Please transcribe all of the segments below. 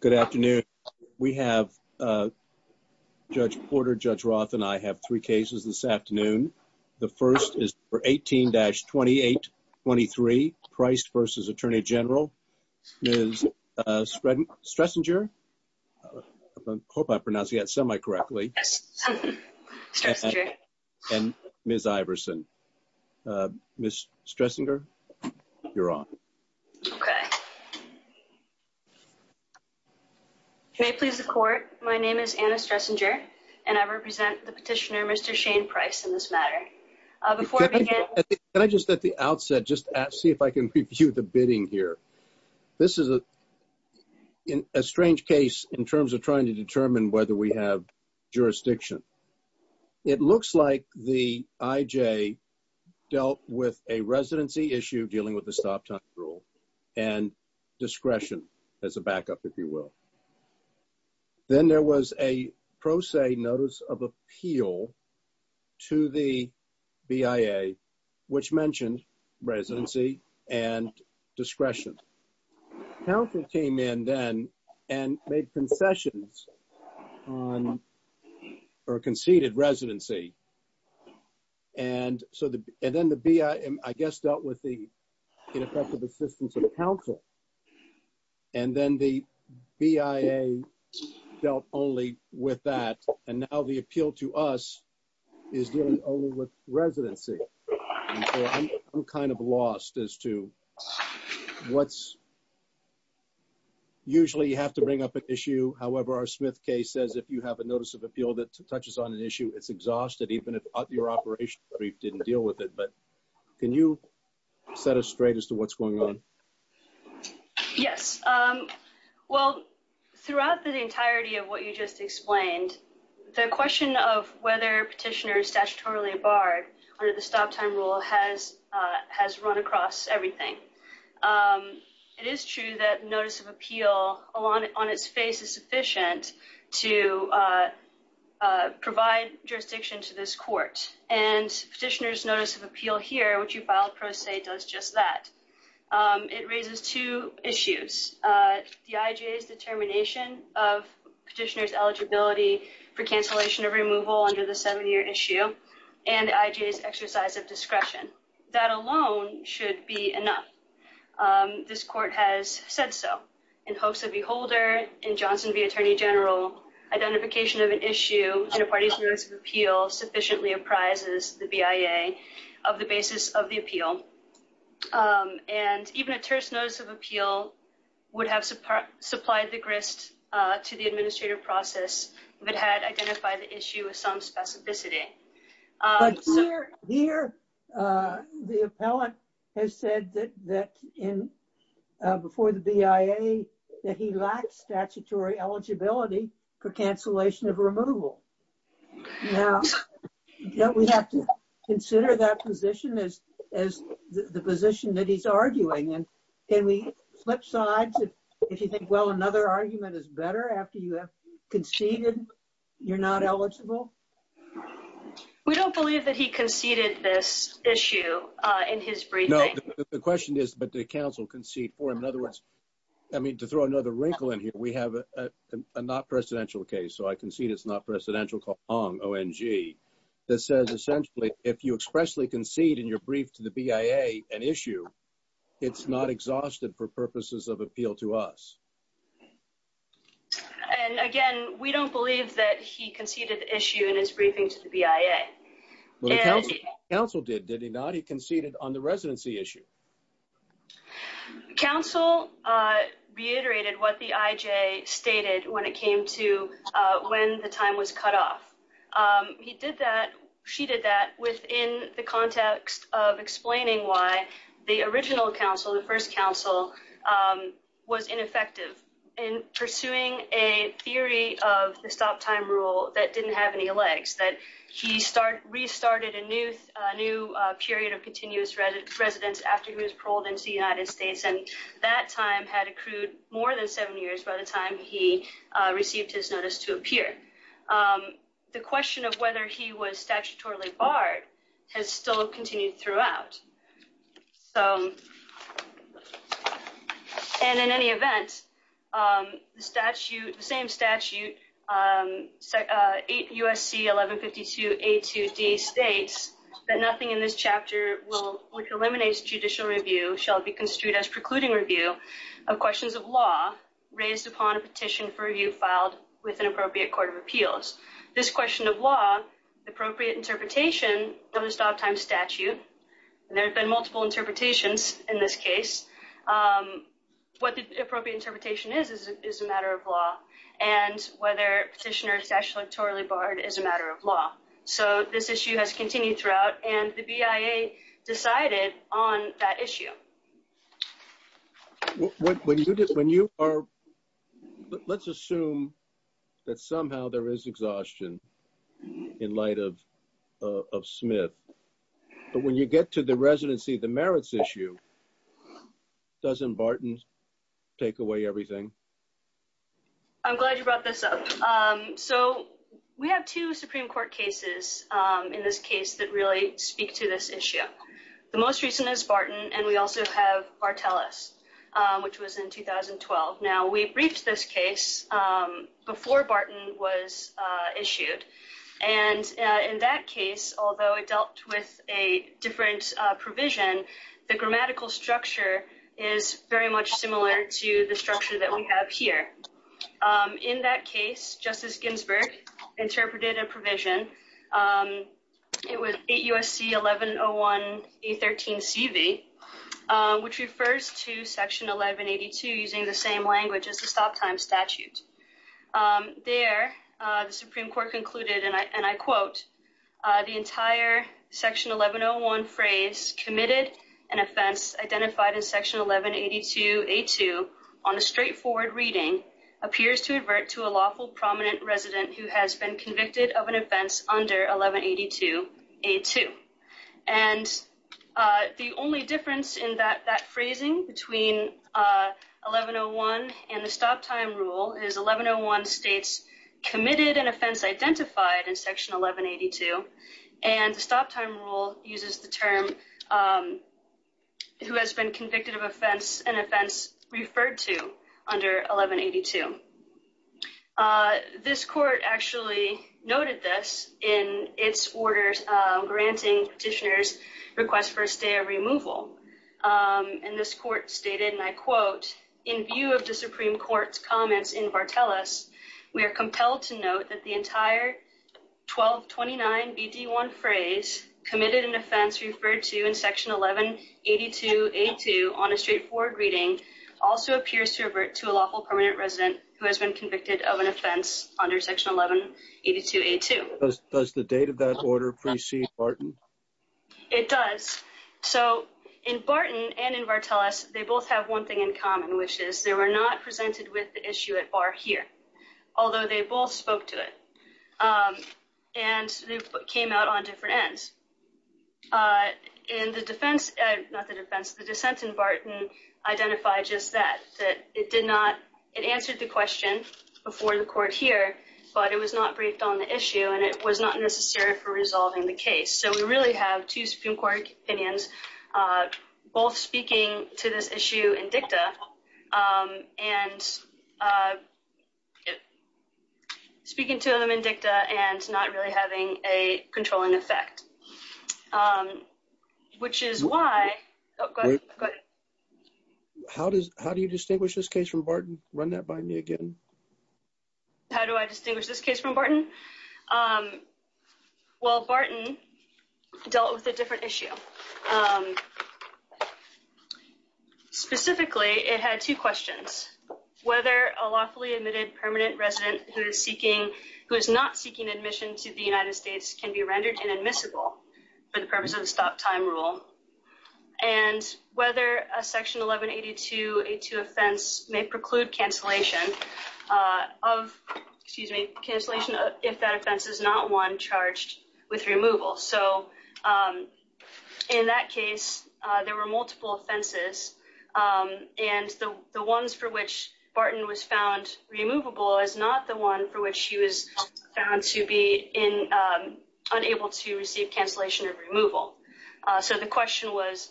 Good afternoon. We have Judge Porter, Judge Roth, and I have three cases this afternoon. The first is for 18-2823, Pryce v. Attorney General, Ms. Stressinger, I hope I pronounced that semi-correctly, and Ms. Iverson. Ms. Stressinger, you're on. Okay. May it please the court, my name is Anna Stressinger, and I represent the petitioner Mr. Shane Pryce in this matter. Before I begin... Can I just at the outset just ask, see if I can review the bidding here. This is a strange case in terms of trying to determine whether we have jurisdiction. It looks like the IJ dealt with a residency issue dealing with the stop-time rule and discretion as a backup, if you will. Then there was a pro se notice of appeal to the BIA, which mentioned residency and discretion. Council came in then and made concessions or conceded residency. And then the BIA, I guess, dealt with the ineffective assistance of council. And then the BIA dealt only with that, and now the appeal to us is dealing only with residency. I'm kind of lost as to what's... Usually you have to bring up an issue. However, our Smith case says if you have a notice of appeal that touches on an issue, it's exhausted, even if your operation brief didn't deal with it. But can you set us straight as to what's going on? Yes. Well, throughout the entirety of what you just explained, the question of whether petitioner is statutorily barred under the stop-time rule has run across everything. It is true that notice of appeal on its face is sufficient to provide jurisdiction to this court. And petitioner's notice of appeal here, which you filed pro se, does just that. It raises two issues. The IJA's determination of petitioner's eligibility for cancellation of removal under the seven-year issue and the IJA's exercise of discretion. That alone should be enough. This court has said so. In hopes of a holder in Johnson v. Attorney General, identification of an issue in a parties notice of appeal sufficiently apprises the BIA of the basis of the appeal. And even a terse notice of appeal would have supplied the grist to the administrative process if it had identified the issue with some specificity. But here the appellant has said that before the BIA that he lacks statutory eligibility for cancellation of removal. Now, don't we have to consider that position as the position that he's arguing? And can we flip sides if you think, well, another argument is better after you have conceded you're not eligible? We don't believe that he conceded this issue in his briefing. No, the question is, but did counsel concede for him? I mean, to throw another wrinkle in here, we have a not-presidential case, so I concede it's not-presidential, called Hong, O-N-G, that says, essentially, if you expressly concede in your brief to the BIA an issue, it's not exhausted for purposes of appeal to us. And, again, we don't believe that he conceded the issue in his briefing to the BIA. Counsel did, did he not? He conceded on the residency issue. Counsel reiterated what the IJ stated when it came to when the time was cut off. He did that, she did that within the context of explaining why the original counsel, the first counsel, was ineffective in pursuing a theory of the stop-time rule that didn't have any legs, that he restarted a new period of continuous residence after he was paroled into the United States, and that time had accrued more than seven years by the time he received his notice to appear. The question of whether he was statutorily barred has still continued throughout. So, and in any event, the statute, the same statute, 8 U.S.C. 1152 A2D states that nothing in this chapter will, which eliminates judicial review, shall be construed as precluding review of questions of law raised upon a petition for review filed with an appropriate court of appeals. This question of law, the appropriate interpretation of the stop-time statute, and there have been multiple interpretations in this case, what the appropriate interpretation is, is a matter of law, and whether petitioner is statutorily barred is a matter of law. So, this issue has continued throughout, and the BIA decided on that issue. When you are, let's assume that somehow there is exhaustion in light of Smith, but when you get to the residency, the merits issue, doesn't Barton take away everything? I'm glad you brought this up. So, we have two Supreme Court cases in this case that really speak to this issue. The most recent is Barton, and we also have Barteles, which was in 2012. Now, we briefed this case before Barton was issued, and in that case, although it dealt with a different provision, the grammatical structure is very much similar to the structure that we have here. In that case, Justice Ginsburg interpreted a provision. It was 8 U.S.C. 1101A13CV, which refers to Section 1182 using the same language as the stop-time statute. There, the Supreme Court concluded, and I quote, The entire Section 1101 phrase, committed an offense identified in Section 1182A2 on a straightforward reading, appears to advert to a lawful prominent resident who has been convicted of an offense under 1182A2. And the only difference in that phrasing between 1101 and the stop-time rule is 1101 states committed an offense identified in Section 1182, and the stop-time rule uses the term who has been convicted of an offense referred to under 1182. This court actually noted this in its orders granting petitioners' request for a stay of removal, and this court stated, and I quote, Does the date of that order precede Barton? It does. So in Barton and in Vartelis, they both have one thing in common, which is they were not presented with the issue at bar here, although they both spoke to it, and they came out on different ends. In the defense, not the defense, the dissent in Barton identified just that, that it did not, it answered the question before the court here, but it was not briefed on the issue, and it was not necessary for resolving the case. So we really have two Supreme Court opinions, both speaking to this issue in dicta, and speaking to them in dicta and not really having a controlling effect, which is why, oh, go ahead, go ahead. How do you distinguish this case from Barton? Run that by me again. How do I distinguish this case from Barton? Well, Barton dealt with a different issue. Specifically, it had two questions. First, whether a lawfully admitted permanent resident who is seeking, who is not seeking admission to the United States can be rendered inadmissible for the purpose of the stop time rule, and whether a section 1182A2 offense may preclude cancellation of, excuse me, cancellation if that offense is not one charged with removal. So in that case, there were multiple offenses, and the ones for which Barton was found removable is not the one for which he was found to be in, unable to receive cancellation of removal. So the question was,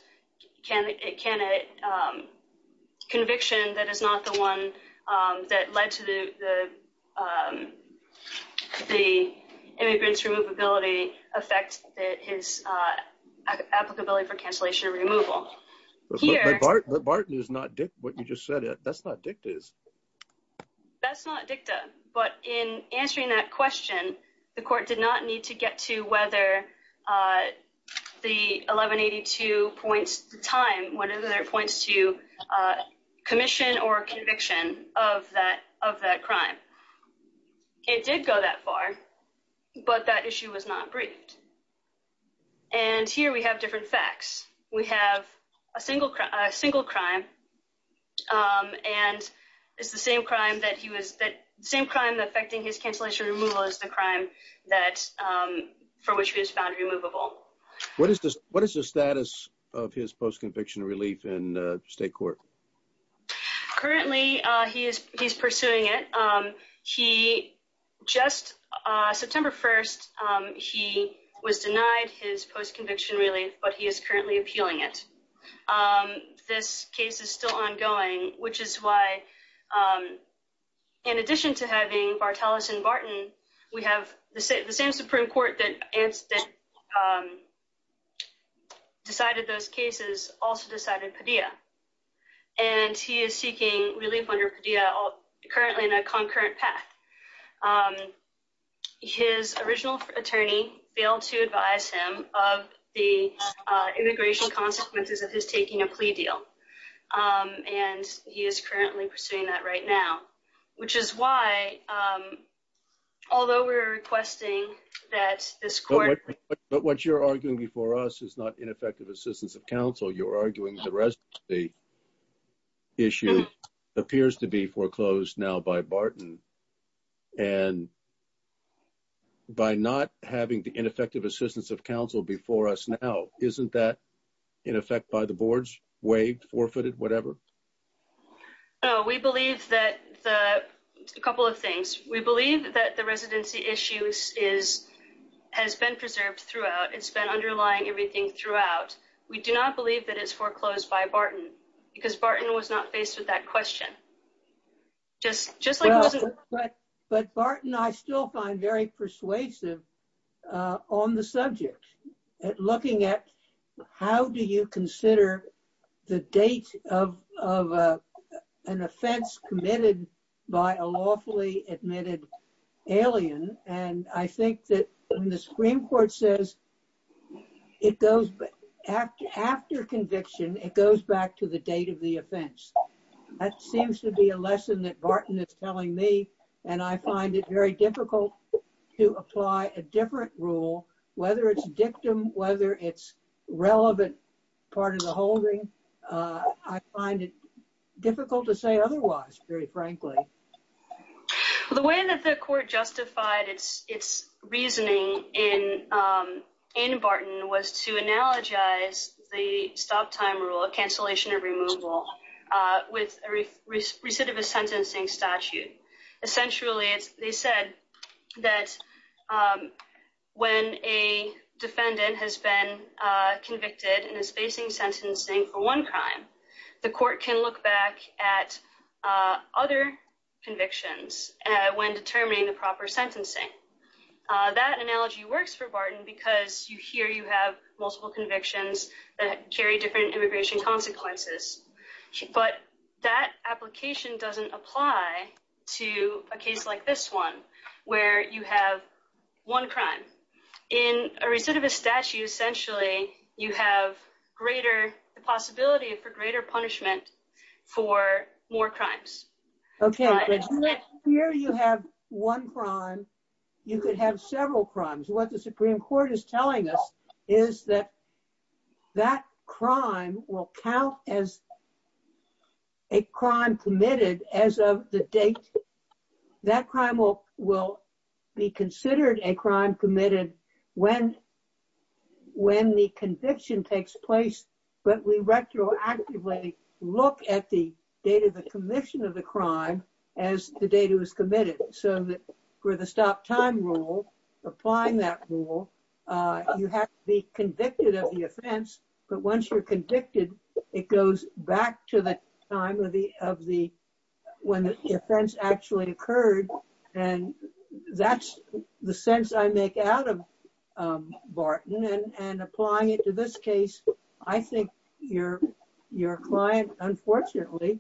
can a conviction that is not the one that led to the immigrant's removability affect his applicability for cancellation of removal? But Barton is not dicta, what you just said. That's not dictas. That's not dicta, but in answering that question, the court did not need to get to whether the 1182 points to time, whether it points to commission or conviction of that crime. It did go that far, but that issue was not briefed. And here we have different facts. We have a single crime, and it's the same crime affecting his cancellation removal as the crime for which he was found removable. What is the status of his post-conviction relief in state court? Currently, he's pursuing it. He just, September 1st, he was denied his post-conviction relief, but he is currently appealing it. This case is still ongoing, which is why, in addition to having Bartolis and Barton, we have the same Supreme Court that decided those cases also decided Padilla. And he is seeking relief under Padilla currently in a concurrent path. His original attorney failed to advise him of the immigration consequences of his taking a plea deal. And he is currently pursuing that right now, which is why, although we're requesting that this court. But what you're arguing before us is not ineffective assistance of counsel. You're arguing the rest of the issue appears to be foreclosed now by Barton. And by not having the ineffective assistance of counsel before us now, isn't that in effect by the boards waived, forfeited, whatever? We believe that the couple of things we believe that the residency issues is has been preserved throughout. It's been underlying everything throughout. We do not believe that it's foreclosed by Barton because Barton was not faced with that question. But Barton, I still find very persuasive on the subject, looking at how do you consider the date of an offense committed by a lawfully admitted alien. And I think that the Supreme Court says it goes after conviction, it goes back to the date of the offense. That seems to be a lesson that Barton is telling me. And I find it very difficult to apply a different rule, whether it's dictum, whether it's relevant part of the holding. I find it difficult to say otherwise, very frankly. The way that the court justified its reasoning in Barton was to analogize the stop time rule of cancellation of removal with a recidivist sentencing statute. Essentially, they said that when a defendant has been convicted and is facing sentencing for one crime, the court can look back at other convictions when determining the proper sentencing. That analogy works for Barton because you hear you have multiple convictions that carry different immigration consequences. But that application doesn't apply to a case like this one, where you have one crime. In a recidivist statute, essentially, you have greater possibility for greater punishment for more crimes. Here you have one crime, you could have several crimes. What the Supreme Court is telling us is that that crime will count as a crime committed as of the date. So for the stop time rule, applying that rule, you have to be convicted of the offense. But once you're convicted, it goes back to the time when the offense actually occurred. And that's the sense I make out of Barton. And applying it to this case, I think your client, unfortunately,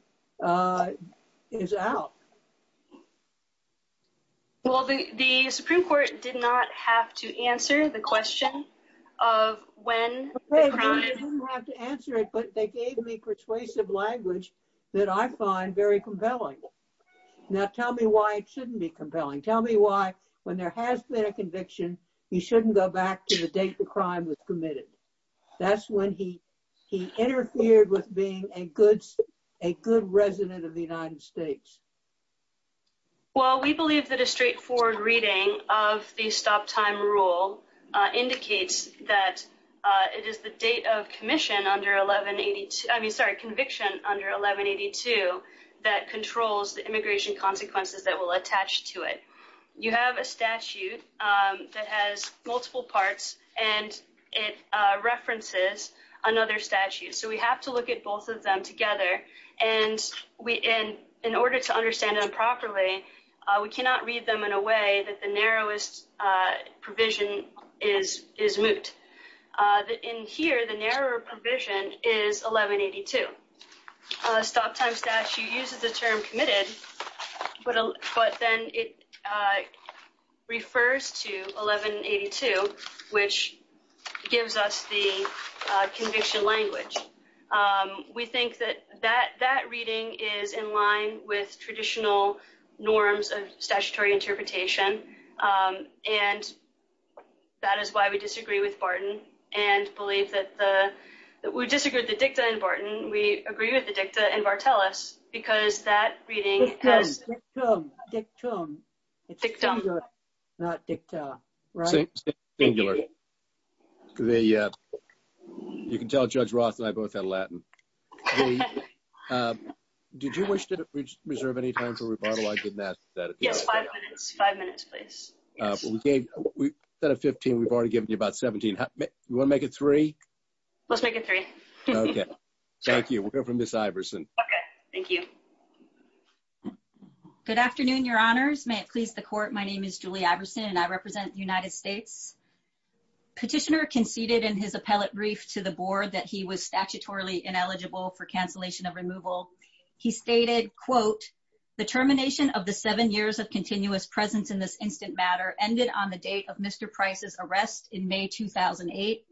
is out. Well, the Supreme Court did not have to answer the question of when the crime occurred. They didn't have to answer it, but they gave me persuasive language that I find very compelling. Now tell me why it shouldn't be compelling. Tell me why when there has been a conviction, you shouldn't go back to the date the crime was committed. That's when he interfered with being a good resident of the United States. Well, we believe that a straightforward reading of the stop time rule indicates that it is the date of conviction under 1182 that controls the immigration consequences that will attach to it. You have a statute that has multiple parts, and it references another statute. So we have to look at both of them together. And in order to understand them properly, we cannot read them in a way that the narrowest provision is moot. In here, the narrower provision is 1182. The stop time statute uses the term committed, but then it refers to 1182, which gives us the conviction language. We think that that reading is in line with traditional norms of statutory interpretation, and that is why we disagree with Barton and believe that we disagree with the dicta in Barton. We agree with the dicta in Bartellus because that reading has... Dictum. Dictum. Dictum. It's singular, not dicta. Right? Singular. You can tell Judge Roth and I both had Latin. Did you wish to reserve any time for rebuttal? I did not. Yes, five minutes. Five minutes, please. Instead of 15, we've already given you about 17. You want to make it three? Let's make it three. Okay. Thank you. We'll go from Ms. Iverson. Okay. Thank you. Good afternoon, Your Honors. May it please the Court, my name is Julie Iverson, and I represent the United States. Petitioner conceded in his appellate brief to the board that he was statutorily ineligible for cancellation of removal. He stated, quote, the termination of the seven years of continuous presence in this instant matter ended on the date of Mr. Price's arrest in May 2008.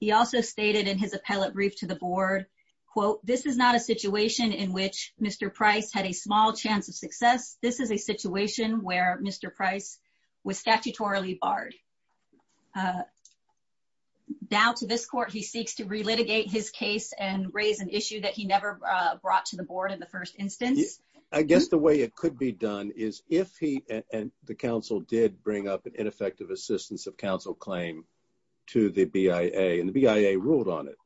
He also stated in his appellate brief to the board, quote, this is not a situation in which Mr. Price had a small chance of success. This is a situation where Mr. Price was statutorily barred. Now to this court, he seeks to relitigate his case and raise an issue that he never brought to the board in the first instance. I guess the way it could be done is if he and the counsel did bring up an ineffective assistance of counsel claim to the BIA, and the BIA ruled on it,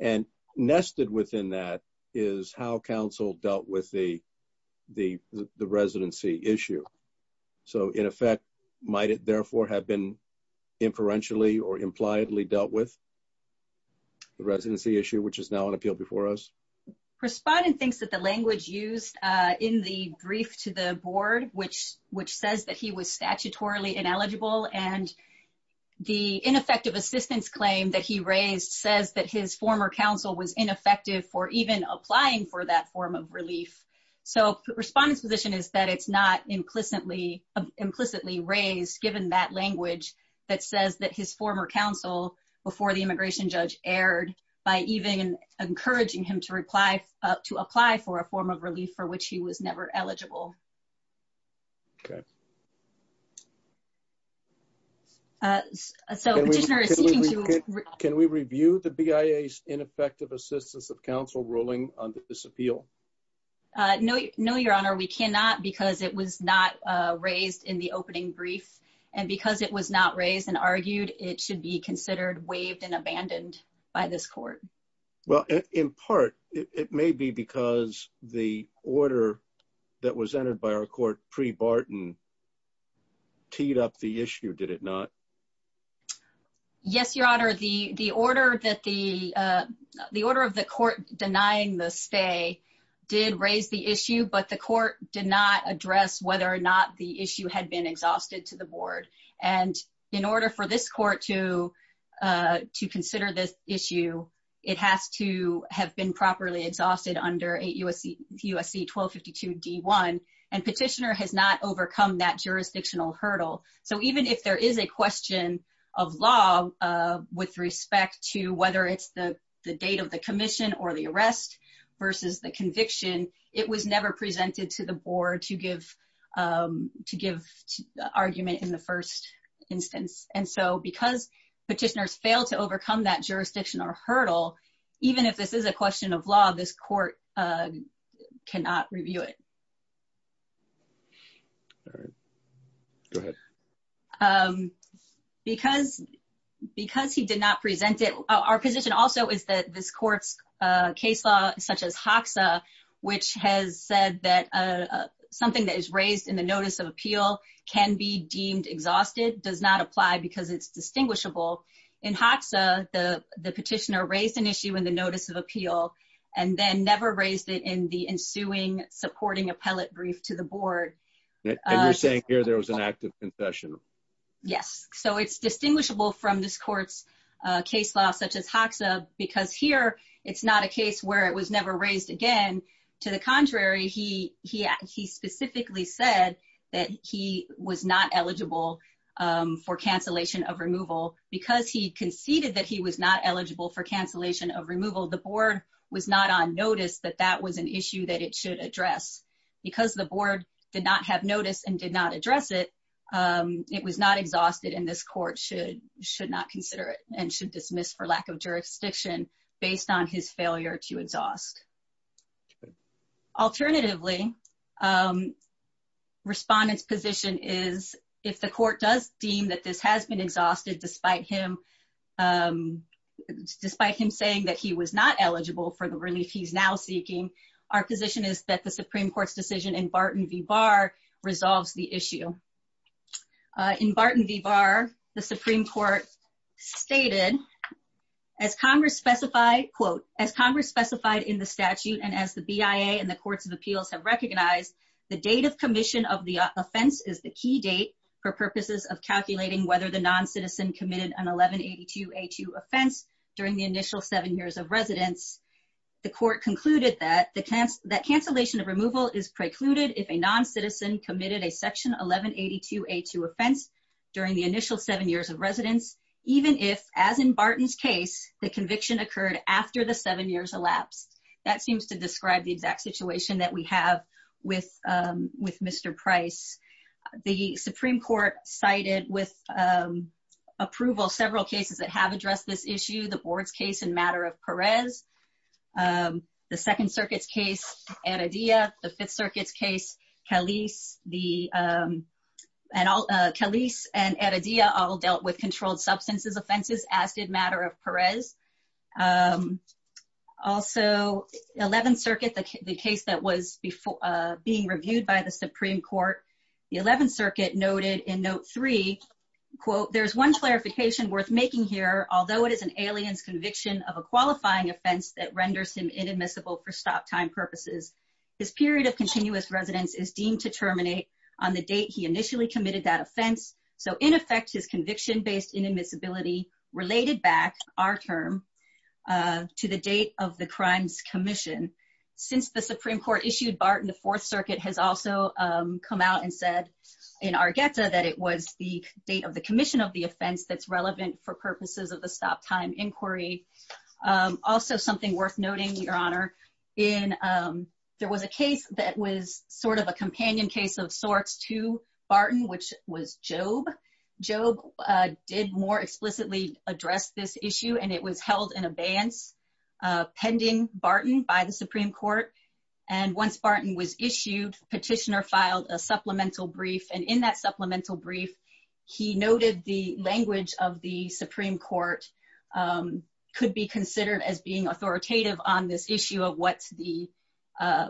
and nested within that is how counsel dealt with the residency issue. So in effect, might it therefore have been inferentially or impliedly dealt with the residency issue, which is now on appeal before us? Respondent thinks that the language used in the brief to the board, which says that he was statutorily ineligible, and the ineffective assistance claim that he raised says that his former counsel was ineffective for even applying for that form of relief. So respondent's position is that it's not implicitly raised, given that language that says that his former counsel, before the immigration judge, erred by even encouraging him to apply for a form of relief for which he was never eligible. Okay. Can we review the BIA's ineffective assistance of counsel ruling on this appeal? No, your honor, we cannot because it was not raised in the opening brief. And because it was not raised and argued, it should be considered waived and abandoned by this court. Well, in part, it may be because the order that was entered by our court pre-Barton teed up the issue, did it not? Yes, your honor, the order of the court denying the stay did raise the issue, but the court did not address whether or not the issue had been exhausted to the board. And in order for this court to consider this issue, it has to have been properly exhausted under 8 U.S.C. 1252 D1, and petitioner has not overcome that jurisdictional hurdle. So even if there is a question of law with respect to whether it's the date of the commission or the arrest versus the conviction, it was never presented to the board to give argument in the first instance. And so because petitioners failed to overcome that jurisdictional hurdle, even if this is a question of law, this court cannot review it. Go ahead. Because he did not present it, our position also is that this court's case law, such as Hoxa, which has said that something that is raised in the notice of appeal can be deemed exhausted, does not apply because it's distinguishable. In Hoxa, the petitioner raised an issue in the notice of appeal, and then never raised it in the ensuing supporting appellate brief to the board. And you're saying here there was an act of confession? Yes. So it's distinguishable from this court's case law, such as Hoxa, because here it's not a case where it was never raised again. To the contrary, he specifically said that he was not eligible for cancellation of removal. Because he conceded that he was not eligible for cancellation of removal, the board was not on notice that that was an issue that it should address. Because the board did not have notice and did not address it, it was not exhausted, and this court should not consider it and should dismiss for lack of jurisdiction based on his failure to exhaust. Alternatively, respondents' position is, if the court does deem that this has been exhausted, despite him saying that he was not eligible for the relief he's now seeking, our position is that the Supreme Court's decision in Barton v. Barr resolves the issue. In Barton v. Barr, the Supreme Court stated, as Congress specified in the statute and as the BIA and the Courts of Appeals have recognized, the date of commission of the offense is the key date for purposes of calculating whether the noncitizen committed an 1182A2 offense during the initial seven years of residence. The court concluded that cancellation of removal is precluded if a noncitizen committed a Section 1182A2 offense during the initial seven years of residence, even if, as in Barton's case, the conviction occurred after the seven years elapsed. That seems to describe the exact situation that we have with Mr. Price. The Supreme Court cited with approval several cases that have addressed this issue, the Board's case in Matter of Perez, the Second Circuit's case, Eredea, the Fifth Circuit's case, Calise, and Eredea all dealt with controlled substances offenses, as did Matter of Perez. Also, Eleventh Circuit, the case that was being reviewed by the Supreme Court, the Eleventh Circuit noted in Note 3, quote, there's one clarification worth making here. Although it is an alien's conviction of a qualifying offense that renders him inadmissible for stop time purposes, his period of continuous residence is deemed to terminate on the date he initially committed that offense. So in effect, his conviction based inadmissibility related back, our term, to the date of the crimes commission. Since the Supreme Court issued Barton, the Fourth Circuit has also come out and said in Argueta that it was the date of the commission of the offense that's relevant for purposes of the stop time inquiry. Also, something worth noting, Your Honor, there was a case that was sort of a companion case of sorts to Barton, which was Jobe. Jobe did more explicitly address this issue, and it was held in abeyance pending Barton by the Supreme Court. And once Barton was issued, the petitioner filed a supplemental brief, and in that supplemental brief, he noted the language of the Supreme Court could be considered as being authoritative on this issue of what's the,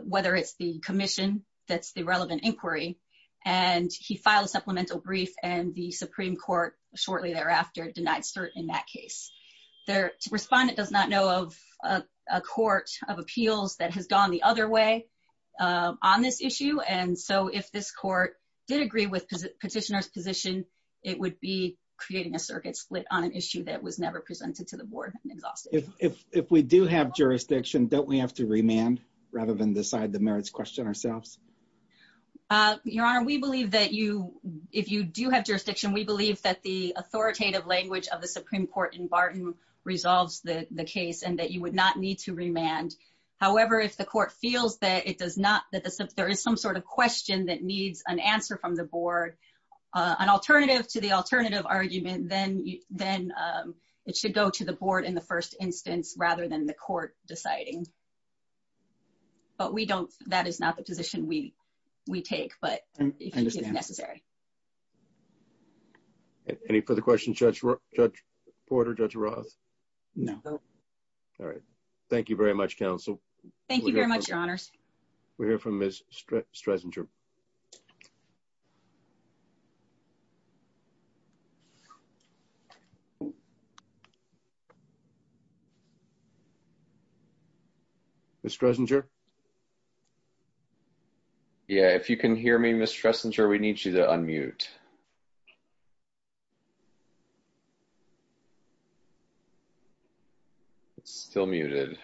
whether it's the commission that's the relevant inquiry. And he filed a supplemental brief, and the Supreme Court shortly thereafter denied cert in that case. The respondent does not know of a court of appeals that has gone the other way on this issue, and so if this court did agree with petitioner's position, it would be creating a circuit split on an issue that was never presented to the board and exhausted. If we do have jurisdiction, don't we have to remand rather than decide the merits question ourselves? Your Honor, we believe that you, if you do have jurisdiction, we believe that the authoritative language of the Supreme Court in Barton resolves the case and that you would not need to remand. However, if the court feels that it does not, that there is some sort of question that needs an answer from the board, an alternative to the alternative argument, then it should go to the board in the first instance rather than the court deciding. But we don't, that is not the position we take, but if it's necessary. Any further questions, Judge Porter, Judge Roth? No. All right. Thank you very much, counsel. Thank you very much, Your Honors. We'll hear from Ms. Stresinger. Ms. Stresinger? Yeah, if you can hear me, Ms. Stresinger, we need you to unmute. It's still muted.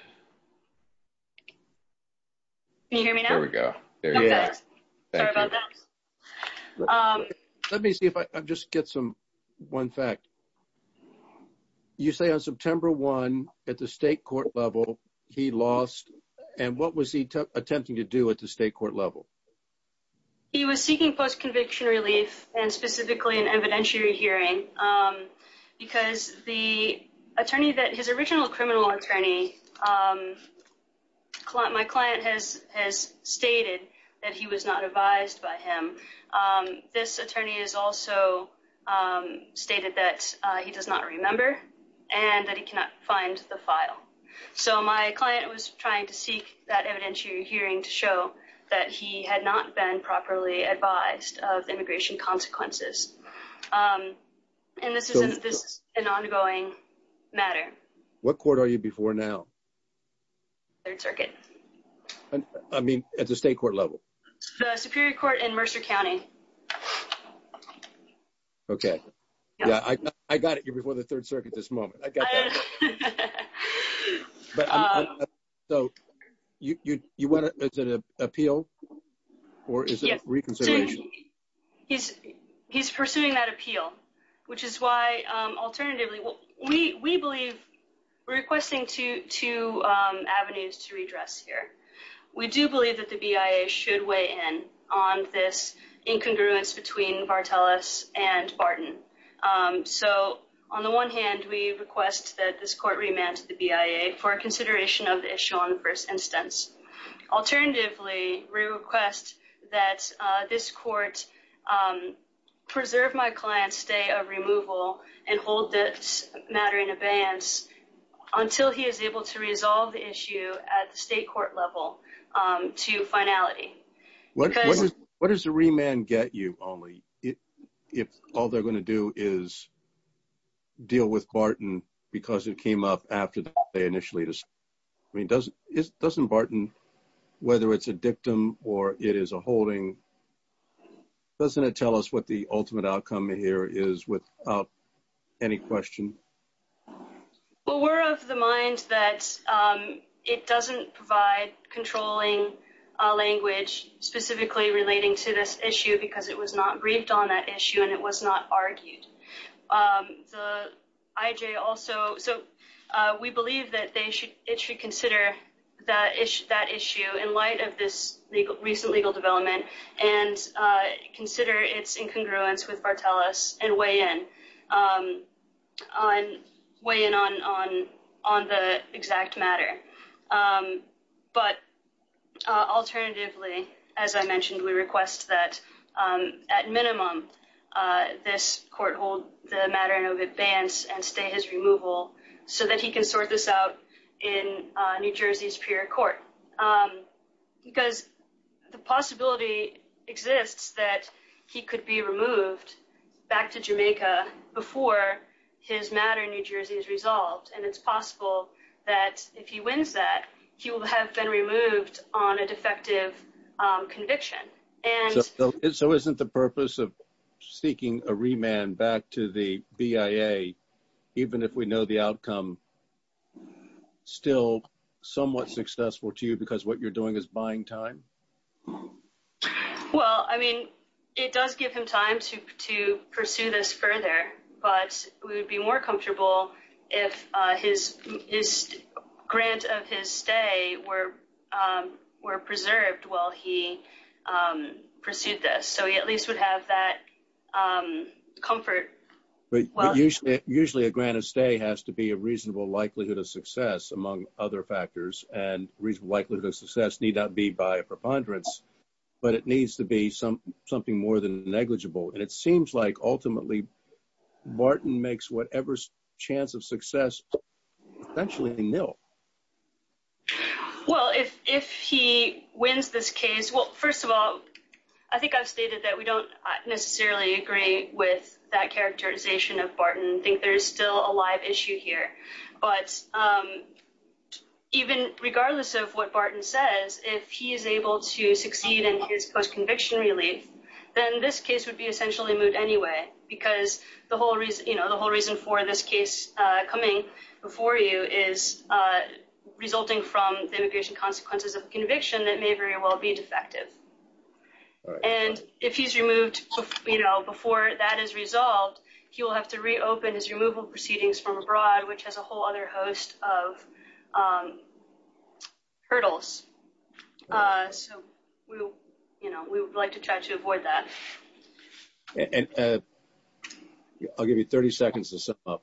Can you hear me now? There we go. Sorry about that. Let me see if I just get some, one fact. You say on September 1 at the state court level he lost, and what was he attempting to do at the state court level? He was seeking post-conviction relief and specifically an evidentiary hearing because the attorney that, his original criminal attorney, my client has stated that he was not advised by him. This attorney has also stated that he does not remember and that he cannot find the file. So my client was trying to seek that evidentiary hearing to show that he had not been properly advised of immigration consequences. And this is an ongoing matter. What court are you before now? Third Circuit. I mean, at the state court level? The Superior Court in Mercer County. Okay. Yeah, I got it. You're before the Third Circuit at this moment. I got that. So, you want to, is it an appeal? Or is it reconsideration? He's pursuing that appeal, which is why, alternatively, we believe, we're requesting two avenues to redress here. We do believe that the BIA should weigh in on this incongruence between Barteles and Barton. So, on the one hand, we request that this court remand to the BIA for consideration of the issue on the first instance. Alternatively, we request that this court preserve my client's stay of removal and hold this matter in abeyance until he is able to resolve the issue at the state court level to finality. What does the remand get you only if all they're going to do is deal with Barton because it came up after they initially decided? I mean, doesn't Barton, whether it's a dictum or it is a holding, doesn't it tell us what the ultimate outcome here is without any question? Well, we're of the mind that it doesn't provide controlling language specifically relating to this issue because it was not briefed on that issue and it was not argued. We believe that it should consider that issue in light of this recent legal development and consider its incongruence with Barteles and weigh in on the exact matter. But alternatively, as I mentioned, we request that at minimum this court hold the matter in abeyance and stay his removal so that he can sort this out in New Jersey's prior court. Because the possibility exists that he could be removed back to Jamaica before his matter in New Jersey is resolved. And it's possible that if he wins that, he will have been removed on a defective conviction. So isn't the purpose of seeking a remand back to the BIA, even if we know the outcome, still somewhat successful to you because what you're doing is buying time? Well, I mean, it does give him time to pursue this further, but we would be more comfortable if his grant of his stay were preserved while he pursued this. So he at least would have that comfort. Usually a grant of stay has to be a reasonable likelihood of success, among other factors, and reasonable likelihood of success need not be by a preponderance, but it needs to be something more than negligible. And it seems like ultimately Martin makes whatever chance of success essentially nil. Well, if he wins this case, well, first of all, I think I've stated that we don't necessarily agree with that characterization of Barton. I think there's still a live issue here. But even regardless of what Barton says, if he is able to succeed in his post-conviction relief, then this case would be essentially moved anyway. Because the whole reason for this case coming before you is resulting from the immigration consequences of a conviction that may very well be defective. And if he's removed before that is resolved, he will have to reopen his removal proceedings from abroad, which has a whole other host of hurdles. So we would like to try to avoid that. And I'll give you 30 seconds to sum up.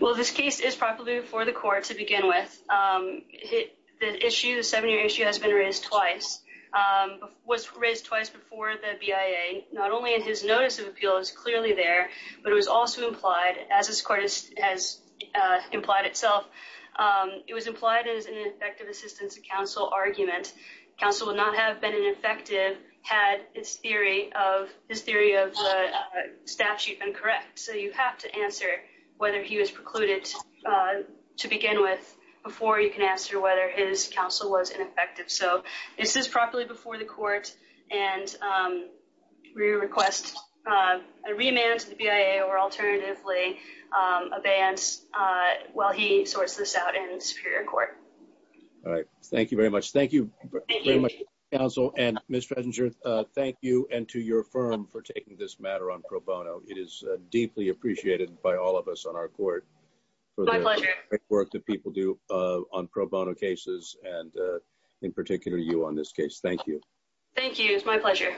Well, this case is probably for the court to begin with. The seven-year issue has been raised twice, was raised twice before the BIA. Not only is his notice of appeal is clearly there, but it was also implied, as this court has implied itself, it was implied as an effective assistance to counsel argument. Counsel would not have been an effective had his theory of the statute been correct. So you have to answer whether he was precluded to begin with before you can answer whether his counsel was ineffective. So this is properly before the court. And we request a remand to the BIA or alternatively a bans while he sorts this out in superior court. All right. Thank you very much. Thank you very much, counsel. And Ms. Fettinger, thank you and to your firm for taking this matter on pro bono. It's greatly appreciated by all of us on our court for the work that people do on pro bono cases. And in particular, you on this case. Thank you. Thank you. It's my pleasure.